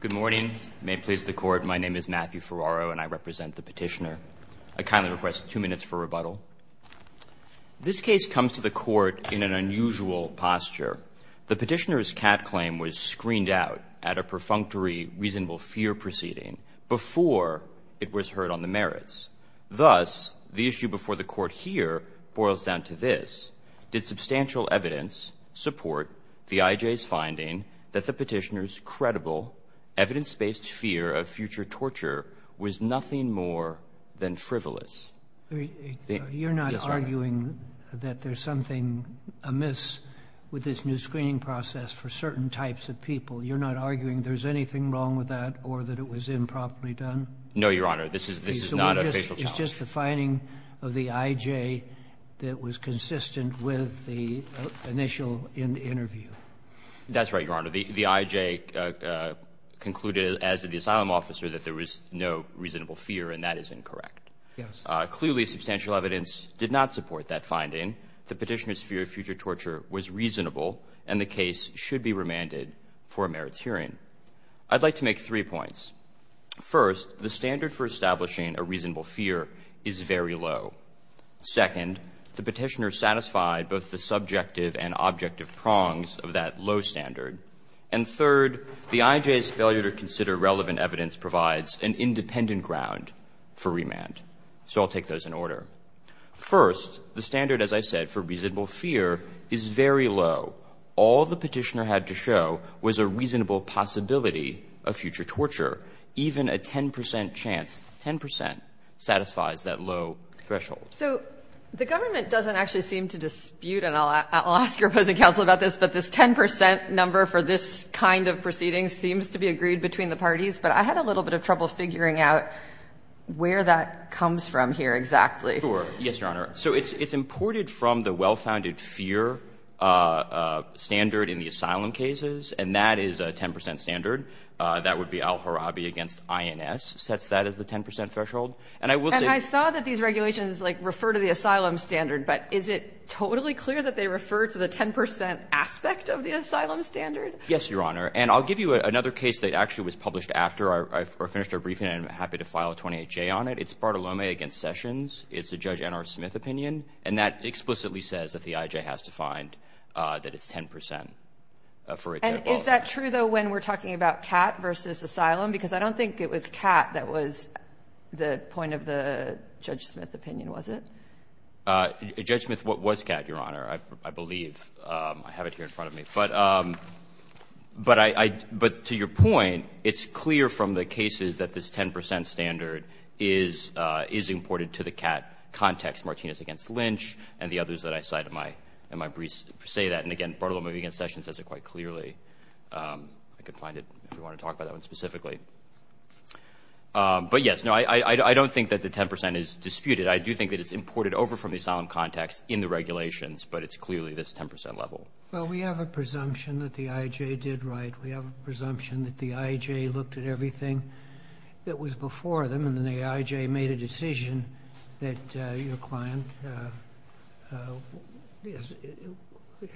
Good morning. May it please the Court, my name is Matthew Ferraro and I represent the Petitioner. I kindly request two minutes for rebuttal. This case comes to the Court in an unusual posture. The Petitioner's cat claim was screened out at a perfunctory reasonable fear proceeding before it was heard on the merits. Thus, the issue before the Court here boils down to this. Did substantial evidence support the IJ's finding that the Petitioner's credible, evidence-based fear of future torture was nothing more than frivolous? You're not arguing that there's something amiss with this new screening process for certain types of people? You're not arguing there's anything wrong with that or that it was improperly done? No, Your Honor, this is not a facial challenge. It's just the finding of the IJ that was consistent with the initial interview. That's right, Your Honor. The IJ concluded, as did the asylum officer, that there was no reasonable fear and that is incorrect. Yes. Clearly, substantial evidence did not support that finding. The Petitioner's fear of future torture was reasonable and the case should be remanded for a merits hearing. I'd like to make three points. First, the standard for establishing a reasonable fear is very low. Second, the Petitioner satisfied both the subjective and objective prongs of that low standard. And third, the IJ's failure to consider relevant evidence provides an independent ground for remand. So I'll take those in order. First, the standard, as I said, for reasonable fear is very low. All the Petitioner had to show was a reasonable possibility of future torture. Even a 10 percent chance, 10 percent, satisfies that low threshold. So the government doesn't actually seem to dispute, and I'll ask your opposing counsel about this, but this 10 percent number for this kind of proceeding seems to be agreed between the parties. But I had a little bit of trouble figuring out where that comes from here exactly. Yes, Your Honor. So it's imported from the well-founded fear standard in the asylum cases, and that is a 10 percent standard. That would be Al-Harabi against INS, sets that as the 10 percent threshold. And I will say — And I saw that these regulations, like, refer to the asylum standard, but is it totally clear that they refer to the 10 percent aspect of the asylum standard? Yes, Your Honor. And I'll give you another case that actually was published after I finished our briefing and I'm happy to file a 28-J on it. It's Bartolome against Sessions. It's a Judge N.R. Smith opinion, and that explicitly says that the I.J. has to find that it's 10 percent, for example. And is that true, though, when we're talking about Catt versus asylum? Because I don't think it was Catt that was the point of the Judge Smith opinion, was it? Judge Smith was Catt, Your Honor, I believe. I have it here in front of me. But I — but to your point, it's clear from the cases that this 10 percent standard is imported to the Catt context, Martinez against Lynch, and the others that I cite in my briefs say that. And, again, Bartolome against Sessions says it quite clearly. I could find it if you want to talk about that one specifically. But, yes, no, I don't think that the 10 percent is disputed. I do think that it's imported over from the asylum context in the regulations, but it's clearly this 10 percent level. Well, we have a presumption that the I.J. did right. We have a presumption that the I.J. looked at everything that was before them, and then the I.J. made a decision that your client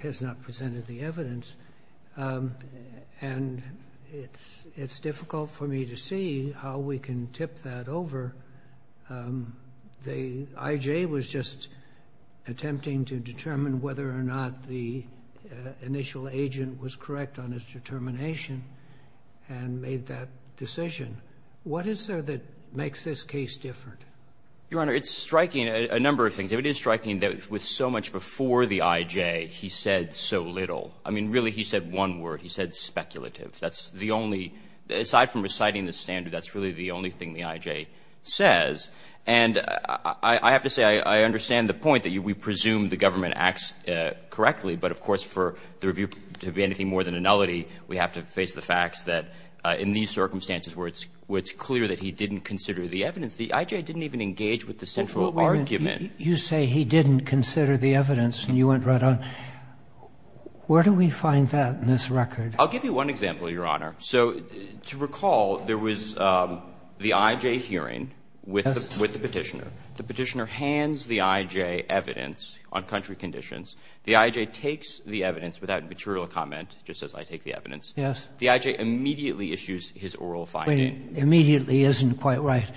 has not presented the evidence. And it's difficult for me to see how we can tip that over. The I.J. was just attempting to determine whether or not the initial agent was correct on his determination and made that decision. What is there that makes this case different? Your Honor, it's striking a number of things. It is striking that with so much before the I.J. he said so little. I mean, really, he said one word. He said speculative. That's the only – aside from reciting the standard, that's really the only thing the I.J. says. And I have to say I understand the point that we presume the government acts correctly, but of course for the review to be anything more than a nullity, we have to face the facts that in these circumstances where it's clear that he didn't consider the evidence, the I.J. didn't even engage with the central argument. You say he didn't consider the evidence and you went right on. Where do we find that in this record? I'll give you one example, Your Honor. So to recall, there was the I.J. hearing with the Petitioner. The Petitioner hands the I.J. evidence on country conditions. The I.J. takes the evidence without material comment, just as I take the evidence. Yes. The I.J. immediately issues his oral finding. Wait. Immediately isn't quite right.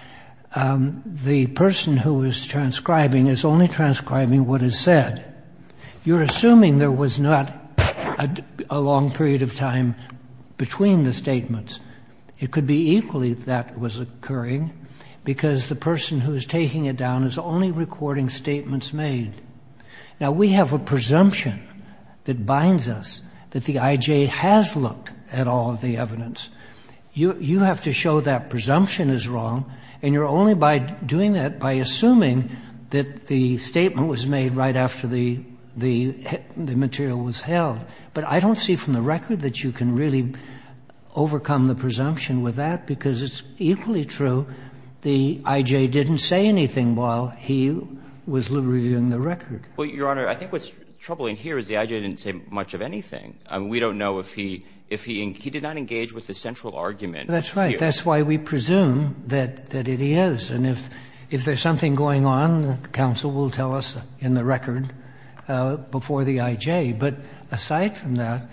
The person who is transcribing is only transcribing what is said. You're assuming there was not a long period of time between the statements. It could be equally that was occurring because the person who is taking it down is only recording statements made. Now, we have a presumption that binds us that the I.J. has looked at all of the evidence. You have to show that presumption is wrong and you're only doing that by assuming that the statement was made right after the material was held. But I don't see from the record that you can really overcome the presumption with that because it's equally true the I.J. didn't say anything while he was reviewing the record. Well, Your Honor, I think what's troubling here is the I.J. didn't say much of anything. I mean, we don't know if he did not engage with the central argument. That's right. That's why we presume that it is. And if there's something going on, the counsel will tell us in the record before the I.J. But aside from that,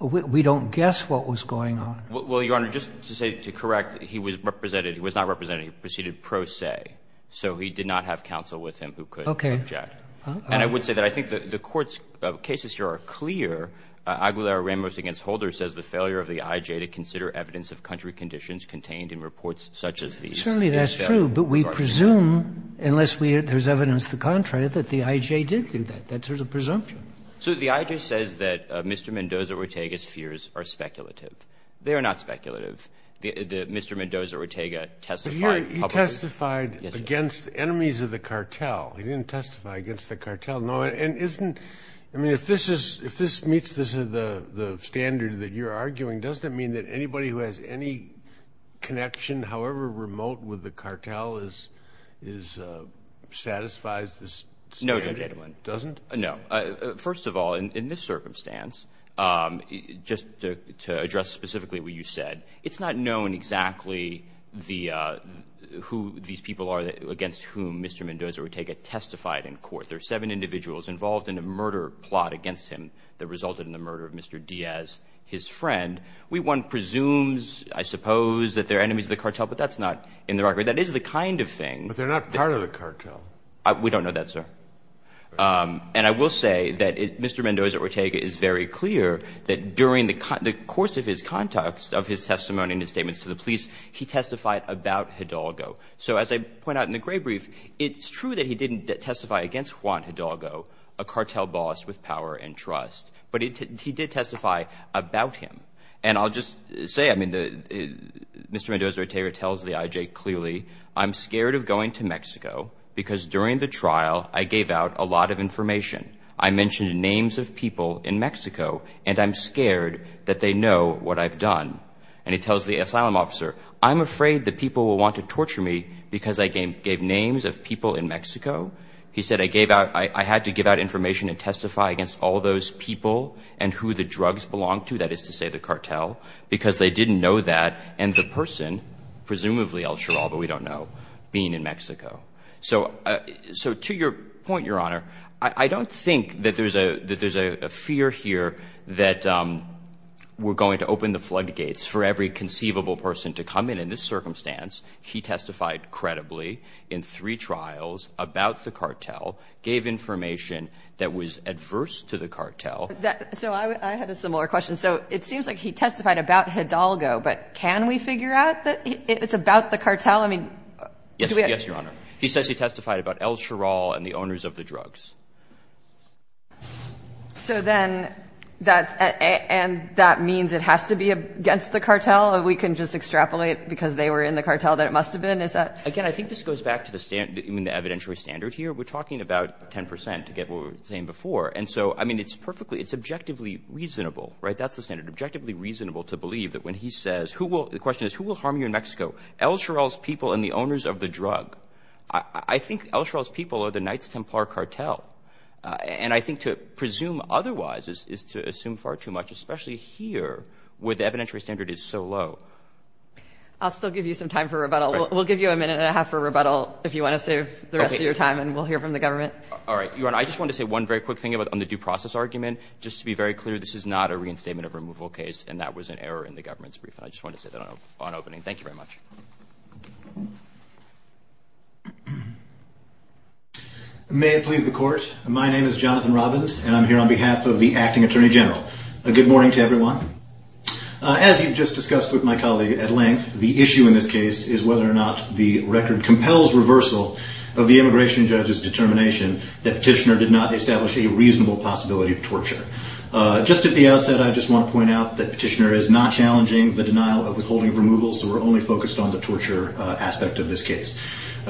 we don't guess what was going on. Well, Your Honor, just to correct, he was represented, he was not represented, he proceeded pro se. So he did not have counsel with him who could object. And I would say that I think the Court's cases here are clear. Aguilera-Ramos v. Holder says the failure of the I.J. to consider evidence of country conditions contained in reports such as these is failure. Certainly that's true, but we presume, unless there's evidence to the contrary, that the I.J. did do that, that there's a presumption. So the I.J. says that Mr. Mendoza-Ortega's fears are speculative. They are not speculative. Mr. Mendoza-Ortega testified publicly. But he testified against enemies of the cartel. He didn't testify against the cartel. No, and isn't – I mean, if this is – if this meets the standard that you're arguing, doesn't it mean that anybody who has any connection, however remote, with the cartel is – satisfies this standard? No, Judge Edelman. Doesn't? No. First of all, in this circumstance, just to address specifically what you said, it's not known exactly the – who these people are against whom Mr. Mendoza-Ortega testified in court. There are seven individuals involved in a murder plot against him that resulted in the murder of Mr. Diaz, his friend. We, one, presumes, I suppose, that they're enemies of the cartel, but that's not in the record. That is the kind of thing. But they're not part of the cartel. We don't know that, sir. And I will say that Mr. Mendoza-Ortega is very clear that during the course of his contacts, of his testimony and his statements to the police, he testified about Hidalgo. So as I point out in the gray brief, it's true that he didn't testify against Juan Hidalgo, a cartel boss with power and trust. But he did testify about him. And I'll just say, I mean, Mr. Mendoza-Ortega tells the IJ clearly, I'm scared of going to Mexico because during the trial I gave out a lot of information. I mentioned names of people in Mexico, and I'm scared that they know what I've done. And he tells the asylum officer, I'm afraid that people will want to torture me because I gave names of people in Mexico. He said I gave out – I had to give out information and testify against all those people and who the drugs belonged to, that is to say, the cartel, because they didn't know that, and the person, presumably El Chiral, but we don't know, being in Mexico. So to your point, Your Honor, I don't think that there's a fear here that we're going to open the floodgates for every conceivable person to come in. In this circumstance, he testified credibly in three trials about the cartel, gave information that was adverse to the cartel. So I had a similar question. So it seems like he testified about Hidalgo, but can we figure out that it's about the cartel? I mean, do we have – Yes, Your Honor. He says he testified about El Chiral and the owners of the drugs. So then that's – and that means it has to be against the cartel? We can just extrapolate because they were in the cartel that it must have been? Is that – Again, I think this goes back to the standard – I mean, the evidentiary standard here. We're talking about 10 percent to get what we were saying before. And so, I mean, it's perfectly – it's objectively reasonable, right? That's the standard. Objectively reasonable to believe that when he says who will – the question is who will harm you in Mexico? El Chiral's people and the owners of the drug. I think El Chiral's people are the Knights Templar cartel. And I think to presume otherwise is to assume far too much, especially here where the evidentiary standard is so low. I'll still give you some time for rebuttal. We'll give you a minute and a half for rebuttal if you want to save the rest of your time, and we'll hear from the government. All right. Your Honor, I just wanted to say one very quick thing on the due process argument. Just to be very clear, this is not a reinstatement of removal case, and that was an error in the government's brief. I just wanted to say that on opening. Thank you very much. May it please the Court. My name is Jonathan Robbins, and I'm here on behalf of the Acting Attorney General. Good morning to everyone. As you just discussed with my colleague at length, the issue in this case is whether or not the record compels reversal of the immigration judge's determination that Petitioner did not establish a reasonable possibility of torture. Just at the outset, I just want to point out that Petitioner is not challenging the denial of withholding of removal, so we're only focused on the torture aspect of this case.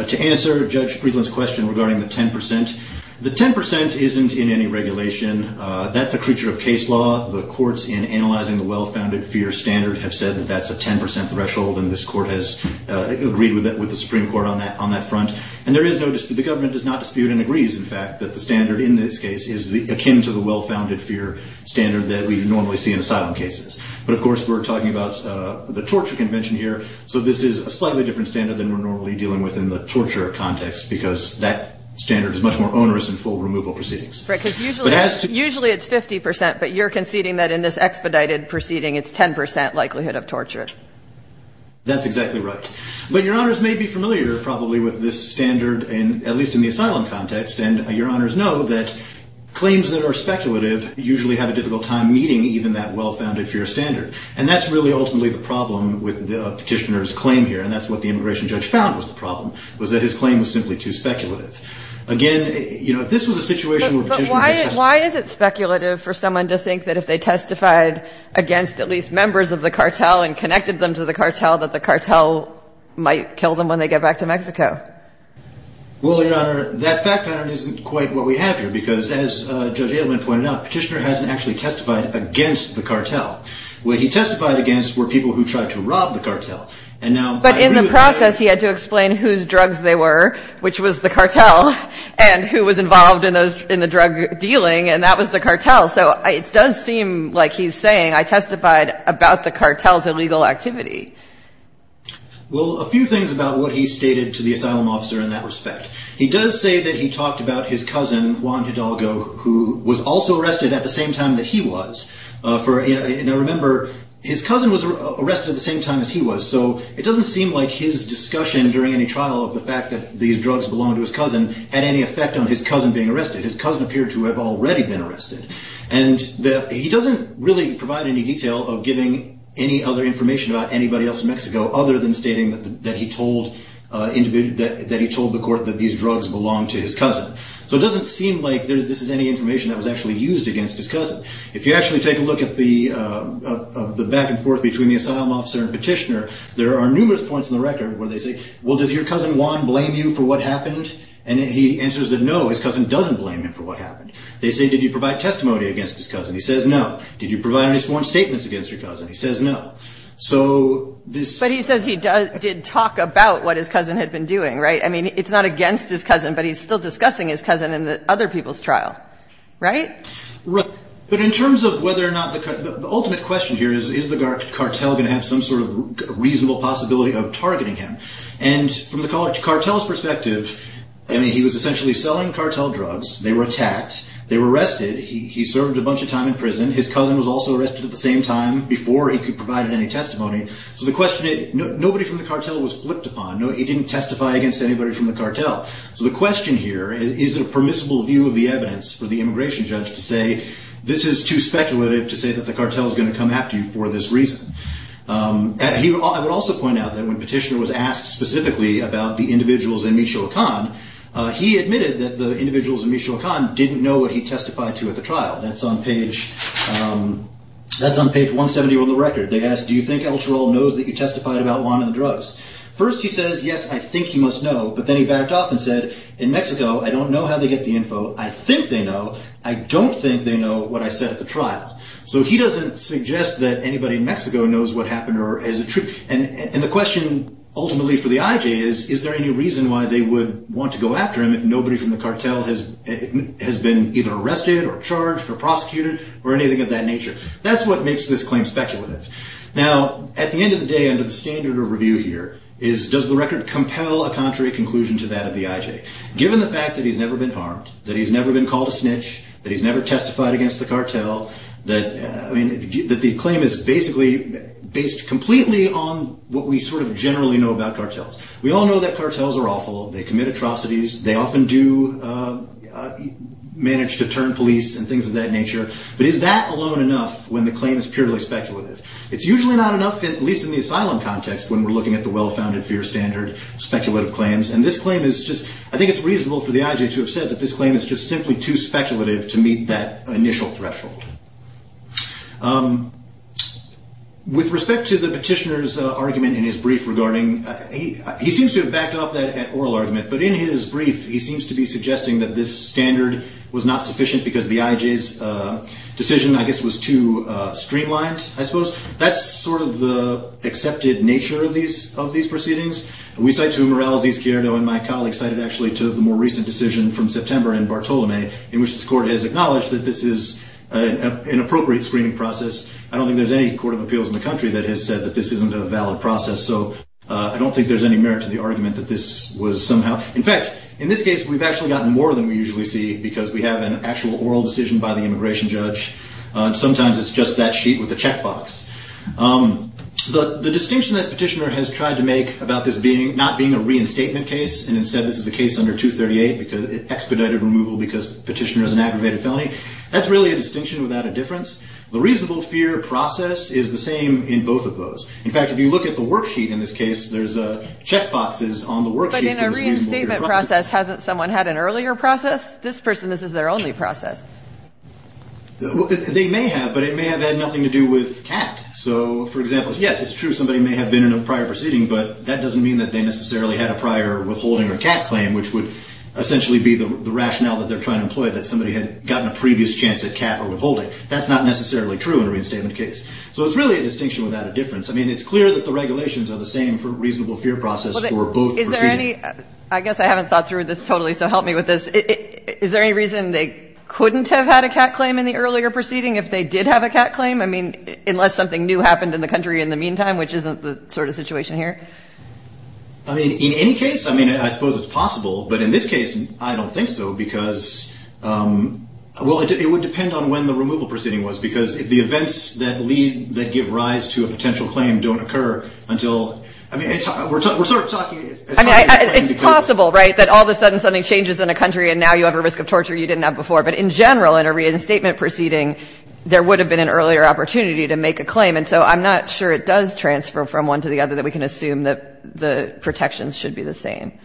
To answer Judge Friedland's question regarding the 10 percent, the 10 percent isn't in any regulation. That's a creature of case law. The courts, in analyzing the well-founded fear standard, have said that that's a 10 percent threshold, and this Court has agreed with the Supreme Court on that front. And there is no dispute. The government does not dispute and agrees, in fact, that the standard in this case is akin to the well-founded fear standard that we normally see in asylum cases. But, of course, we're talking about the torture convention here, so this is a slightly different standard than we're normally dealing with in the torture context, because that standard is much more onerous in full removal proceedings. Right. Because usually it's 50 percent, but you're conceding that in this expedited proceeding, it's 10 percent likelihood of torture. That's exactly right. But Your Honors may be familiar, probably, with this standard, at least in the asylum context, and Your Honors know that claims that are speculative usually have a difficult time meeting even that well-founded fear standard. And that's really ultimately the problem with Petitioner's claim here, and that's what the immigration judge found was the problem, was that his claim was simply too speculative. Again, you know, if this was a situation where Petitioner had said – But why is it speculative for someone to think that if they testified against at least members of the cartel and connected them to the cartel, that the cartel might kill them when they get back to Mexico? Well, Your Honor, that fact pattern isn't quite what we have here, because as Judge Petitioner actually testified against the cartel. What he testified against were people who tried to rob the cartel. But in the process, he had to explain whose drugs they were, which was the cartel, and who was involved in the drug dealing, and that was the cartel. So it does seem like he's saying, I testified about the cartel's illegal activity. Well, a few things about what he stated to the asylum officer in that respect. He does say that he talked about his cousin, Juan Hidalgo, who was also arrested at the same time that he was. Now remember, his cousin was arrested at the same time as he was, so it doesn't seem like his discussion during any trial of the fact that these drugs belonged to his cousin had any effect on his cousin being arrested. His cousin appeared to have already been arrested. And he doesn't really provide any detail of giving any other information about anybody else in Mexico other than stating that he told the court that these drugs belonged to his cousin. So it doesn't seem like this is any information that was actually used against his cousin. If you actually take a look at the back and forth between the asylum officer and petitioner, there are numerous points in the record where they say, well, does your cousin, Juan, blame you for what happened? And he answers that no, his cousin doesn't blame him for what happened. They say, did you provide testimony against his cousin? He says no. Did you provide any sworn statements against your cousin? He says no. So this ---- But he says he did talk about what his cousin had been doing, right? I mean, it's not against his cousin, but he's still discussing his cousin in the other people's trial, right? Right. But in terms of whether or not the ultimate question here is, is the cartel going to have some sort of reasonable possibility of targeting him? And from the cartel's perspective, I mean, he was essentially selling cartel drugs. They were attacked. They were arrested. He served a bunch of time in prison. His cousin was also arrested at the same time before he could provide any testimony. So the question is, nobody from the cartel was flipped upon. He didn't testify against anybody from the cartel. So the question here is, is it a permissible view of the evidence for the immigration judge to say, this is too speculative to say that the cartel is going to come after you for this reason? I would also point out that when Petitioner was asked specifically about the individuals in Michoacan, he admitted that the individuals in Michoacan didn't know what he testified to at the trial. That's on page 170 on the record. They asked, do you think El Chorrol knows that you testified about Juan and the drugs? First he says, yes, I think he must know. But then he backed off and said, in Mexico, I don't know how they get the info. I think they know. I don't think they know what I said at the trial. So he doesn't suggest that anybody in Mexico knows what happened or is it true? And the question ultimately for the IJ is, is there any reason why they would want to go after him if nobody from the cartel has been either arrested or charged or prosecuted or anything of that nature? That's what makes this claim speculative. Now, at the end of the day, under the standard of review here, is does the record compel a contrary conclusion to that of the IJ? Given the fact that he's never been harmed, that he's never been called a snitch, that he's never testified against the cartel, that the claim is basically based completely on what we sort of generally know about cartels. We all know that cartels are awful. They commit atrocities. They often do manage to turn police and things of that nature. But is that alone enough when the claim is purely speculative? It's usually not enough, at least in the asylum context, when we're looking at the well-founded fear standard speculative claims. And this claim is just, I think it's reasonable for the IJ to have said that this claim is just simply too speculative to meet that initial threshold. With respect to the petitioner's argument in his brief regarding, he seems to have backed off that oral argument. But in his brief, he seems to be suggesting that this standard was not sufficient because the IJ's decision, I guess, was too streamlined, I suppose. That's sort of the accepted nature of these proceedings. We cite to Morales, Izquierdo and my colleagues cited actually to the more recent decision from September in Bartolome, in which this court has acknowledged that this is an appropriate screening process. I don't think there's any court of appeals in the country that has said that this isn't a valid process. So I don't think there's any merit to the argument that this was somehow, in fact, in this case, we've actually gotten more than we usually see because we have an actual oral decision by the immigration judge. Sometimes it's just that sheet with the checkbox. The distinction that petitioner has tried to make about this being not being a reinstatement case. And instead, this is a case under 238 because it expedited removal because petitioner is an aggravated felony. That's really a distinction without a difference. The reasonable fear process is the same in both of those. In fact, if you look at the worksheet in this case, there's a checkboxes on the worksheet. But in a reinstatement process, hasn't someone had an earlier process? This person, this is their only process. They may have, but it may have had nothing to do with cat. So for example, yes, it's true. Somebody may have been in a prior proceeding, but that doesn't mean that they necessarily had a prior withholding or cat claim, which would essentially be the rationale that they're trying to employ that somebody had gotten a previous chance at cat or withholding. That's not necessarily true in a reinstatement case. So it's really a distinction without a difference. I mean, it's clear that the regulations are the same for reasonable fear process for both. Is there any, I guess I haven't thought through this totally. So help me with this. Is there any reason they couldn't have had a cat claim in the earlier proceeding? If they did have a cat claim, I mean, unless something new happened in the country in the meantime, which isn't the sort of situation here. I mean, in any case, I mean, I suppose it's possible, but in this case, I don't think so because, well, it would depend on when the removal proceeding was, because if the events that lead, that give rise to a potential claim don't occur until, I mean, we're sort of talking. It's possible, right? That all of a sudden something changes in a country and now you have a risk of torture you didn't have before. But in general, in a reinstatement proceeding, there would have been an earlier opportunity to make a claim. And so I'm not sure it does transfer from one to the other that we can assume that the protections should be the same.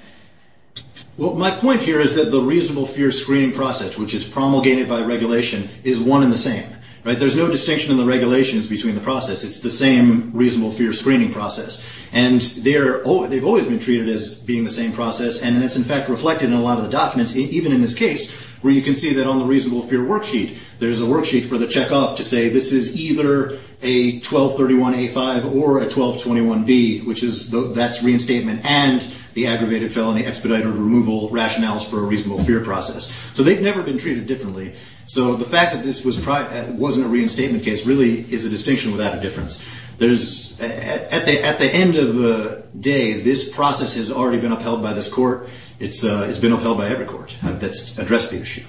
Well, my point here is that the reasonable fear screening process, which is promulgated by regulation, is one in the same, right? There's no distinction in the regulations between the process. It's the same reasonable fear screening process. And they're, they've always been treated as being the same process. And it's in fact reflected in a lot of the documents, even in this case, where you can see that on the reasonable fear worksheet, there's a worksheet for the checkoff to say, this is either a 1231A5 or a 1221B, which is, that's reinstatement and the aggravated felony expedited removal rationales for a reasonable fear process. So they've never been treated differently. So the fact that this was prior, wasn't a reinstatement case really is a distinction without a difference. There's, at the, at the end of the day, this process has already been upheld by this court. It's, it's been upheld by every court that's addressed the issue.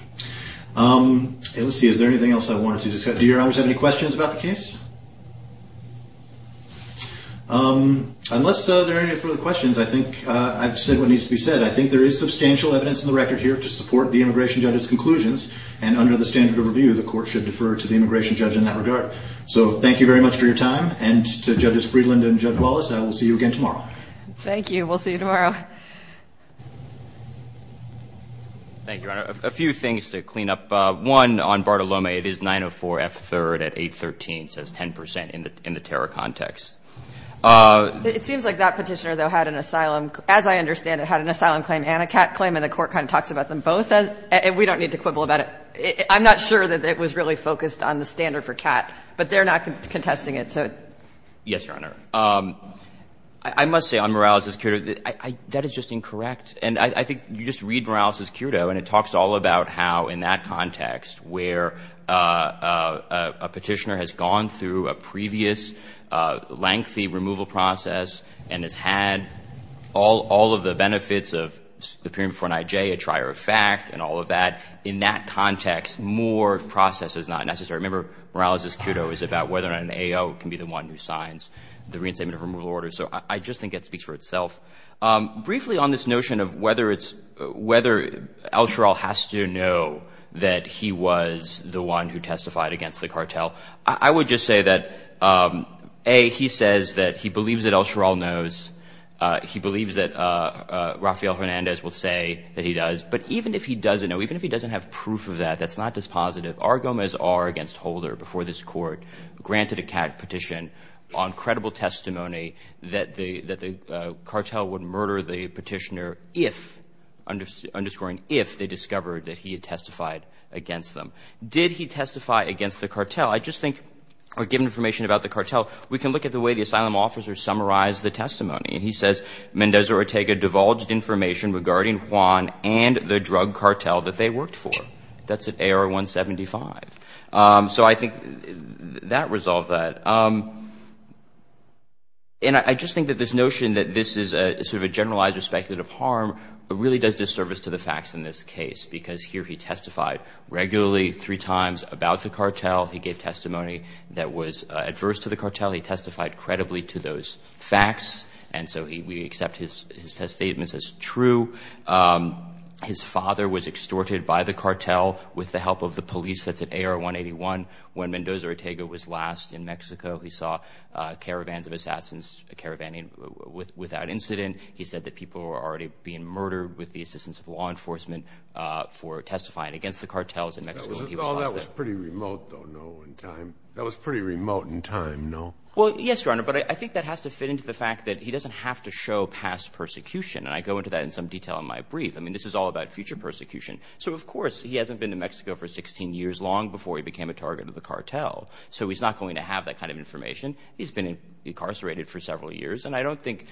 Let's see. Is there anything else I wanted to discuss? Do your honors have any questions about the case? Unless there are any further questions, I think I've said what needs to be said. I think there is substantial evidence in the record here to support the immigration judge's conclusions. And under the standard of review, the court should defer to the immigration judge in that regard. So thank you very much for your time. And to judges Friedland and judge Wallace, I will see you again tomorrow. Thank you. We'll see you tomorrow. Thank you, Your Honor. A few things to clean up. One, on Bartolome, it is 904 F3rd at 813. It says 10% in the, in the terror context. It seems like that petitioner, though, had an asylum, as I understand it, had an asylum claim and a cat claim. And the court kind of talks about them both. And we don't need to quibble about it. I'm not sure that it was really focused on the standard for cat, but they're not contesting it. So, yes, Your Honor. I must say on Morales' kudo, that is just incorrect. And I think you just read Morales' kudo, and it talks all about how, in that context, where a petitioner has gone through a previous lengthy removal process and has had all of the benefits of appearing before an IJ, a trier of fact, and all of that. In that context, more process is not necessary. Remember, Morales' kudo is about whether or not an AO can be the one who signs the reinstatement of removal orders. So I just think it speaks for itself. Briefly, on this notion of whether it's, whether El Sheral has to know that he was the one who testified against the cartel, I would just say that, A, he says that he believes that El Sheral knows. He believes that Rafael Hernandez will say that he does. But even if he doesn't know, even if he doesn't have proof of that, that's not dispositive. R. Gomez R. against Holder before this court granted a cat petition on credible testimony that the cartel would murder the petitioner if, underscoring if, they discovered that he had testified against them. Did he testify against the cartel? I just think, or given information about the cartel, we can look at the way the asylum officer summarized the testimony. He says, Mendoza Ortega divulged information regarding Juan and the drug cartel that they worked for. That's at AR-175. So I think that resolved that. And I just think that this notion that this is sort of a generalized or speculative harm really does disservice to the facts in this case because here he testified regularly three times about the cartel. He gave testimony that was adverse to the cartel. He testified credibly to those facts. And so we accept his statements as true. His father was extorted by the cartel with the help of the police that's at AR-181. When Mendoza Ortega was last in Mexico, he saw caravans of assassins caravaning without incident. He said that people were already being murdered with the assistance of law enforcement for testifying against the cartels in Mexico. That was pretty remote though, no, in time. That was pretty remote in time, no? Well, yes, Your Honor, but I think that has to fit into the fact that he doesn't have to show past persecution. And I go into that in some detail in my brief. I mean, this is all about future persecution. So of course, he hasn't been to Mexico for 16 years long before he became a target of the cartel. So he's not going to have that kind of information. He's been incarcerated for several years. And I don't think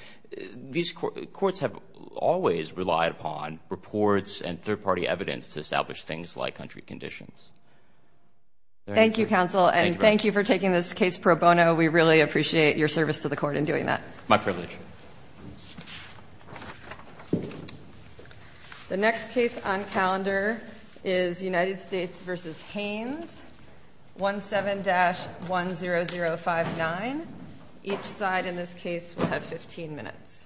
these courts have always relied upon reports and third-party evidence to establish things like country conditions. Thank you, counsel. And thank you for taking this case pro bono. We really appreciate your service to the court in doing that. My privilege. The next case on calendar is United States versus Haines. 17-10059. Each side in this case will have 15 minutes.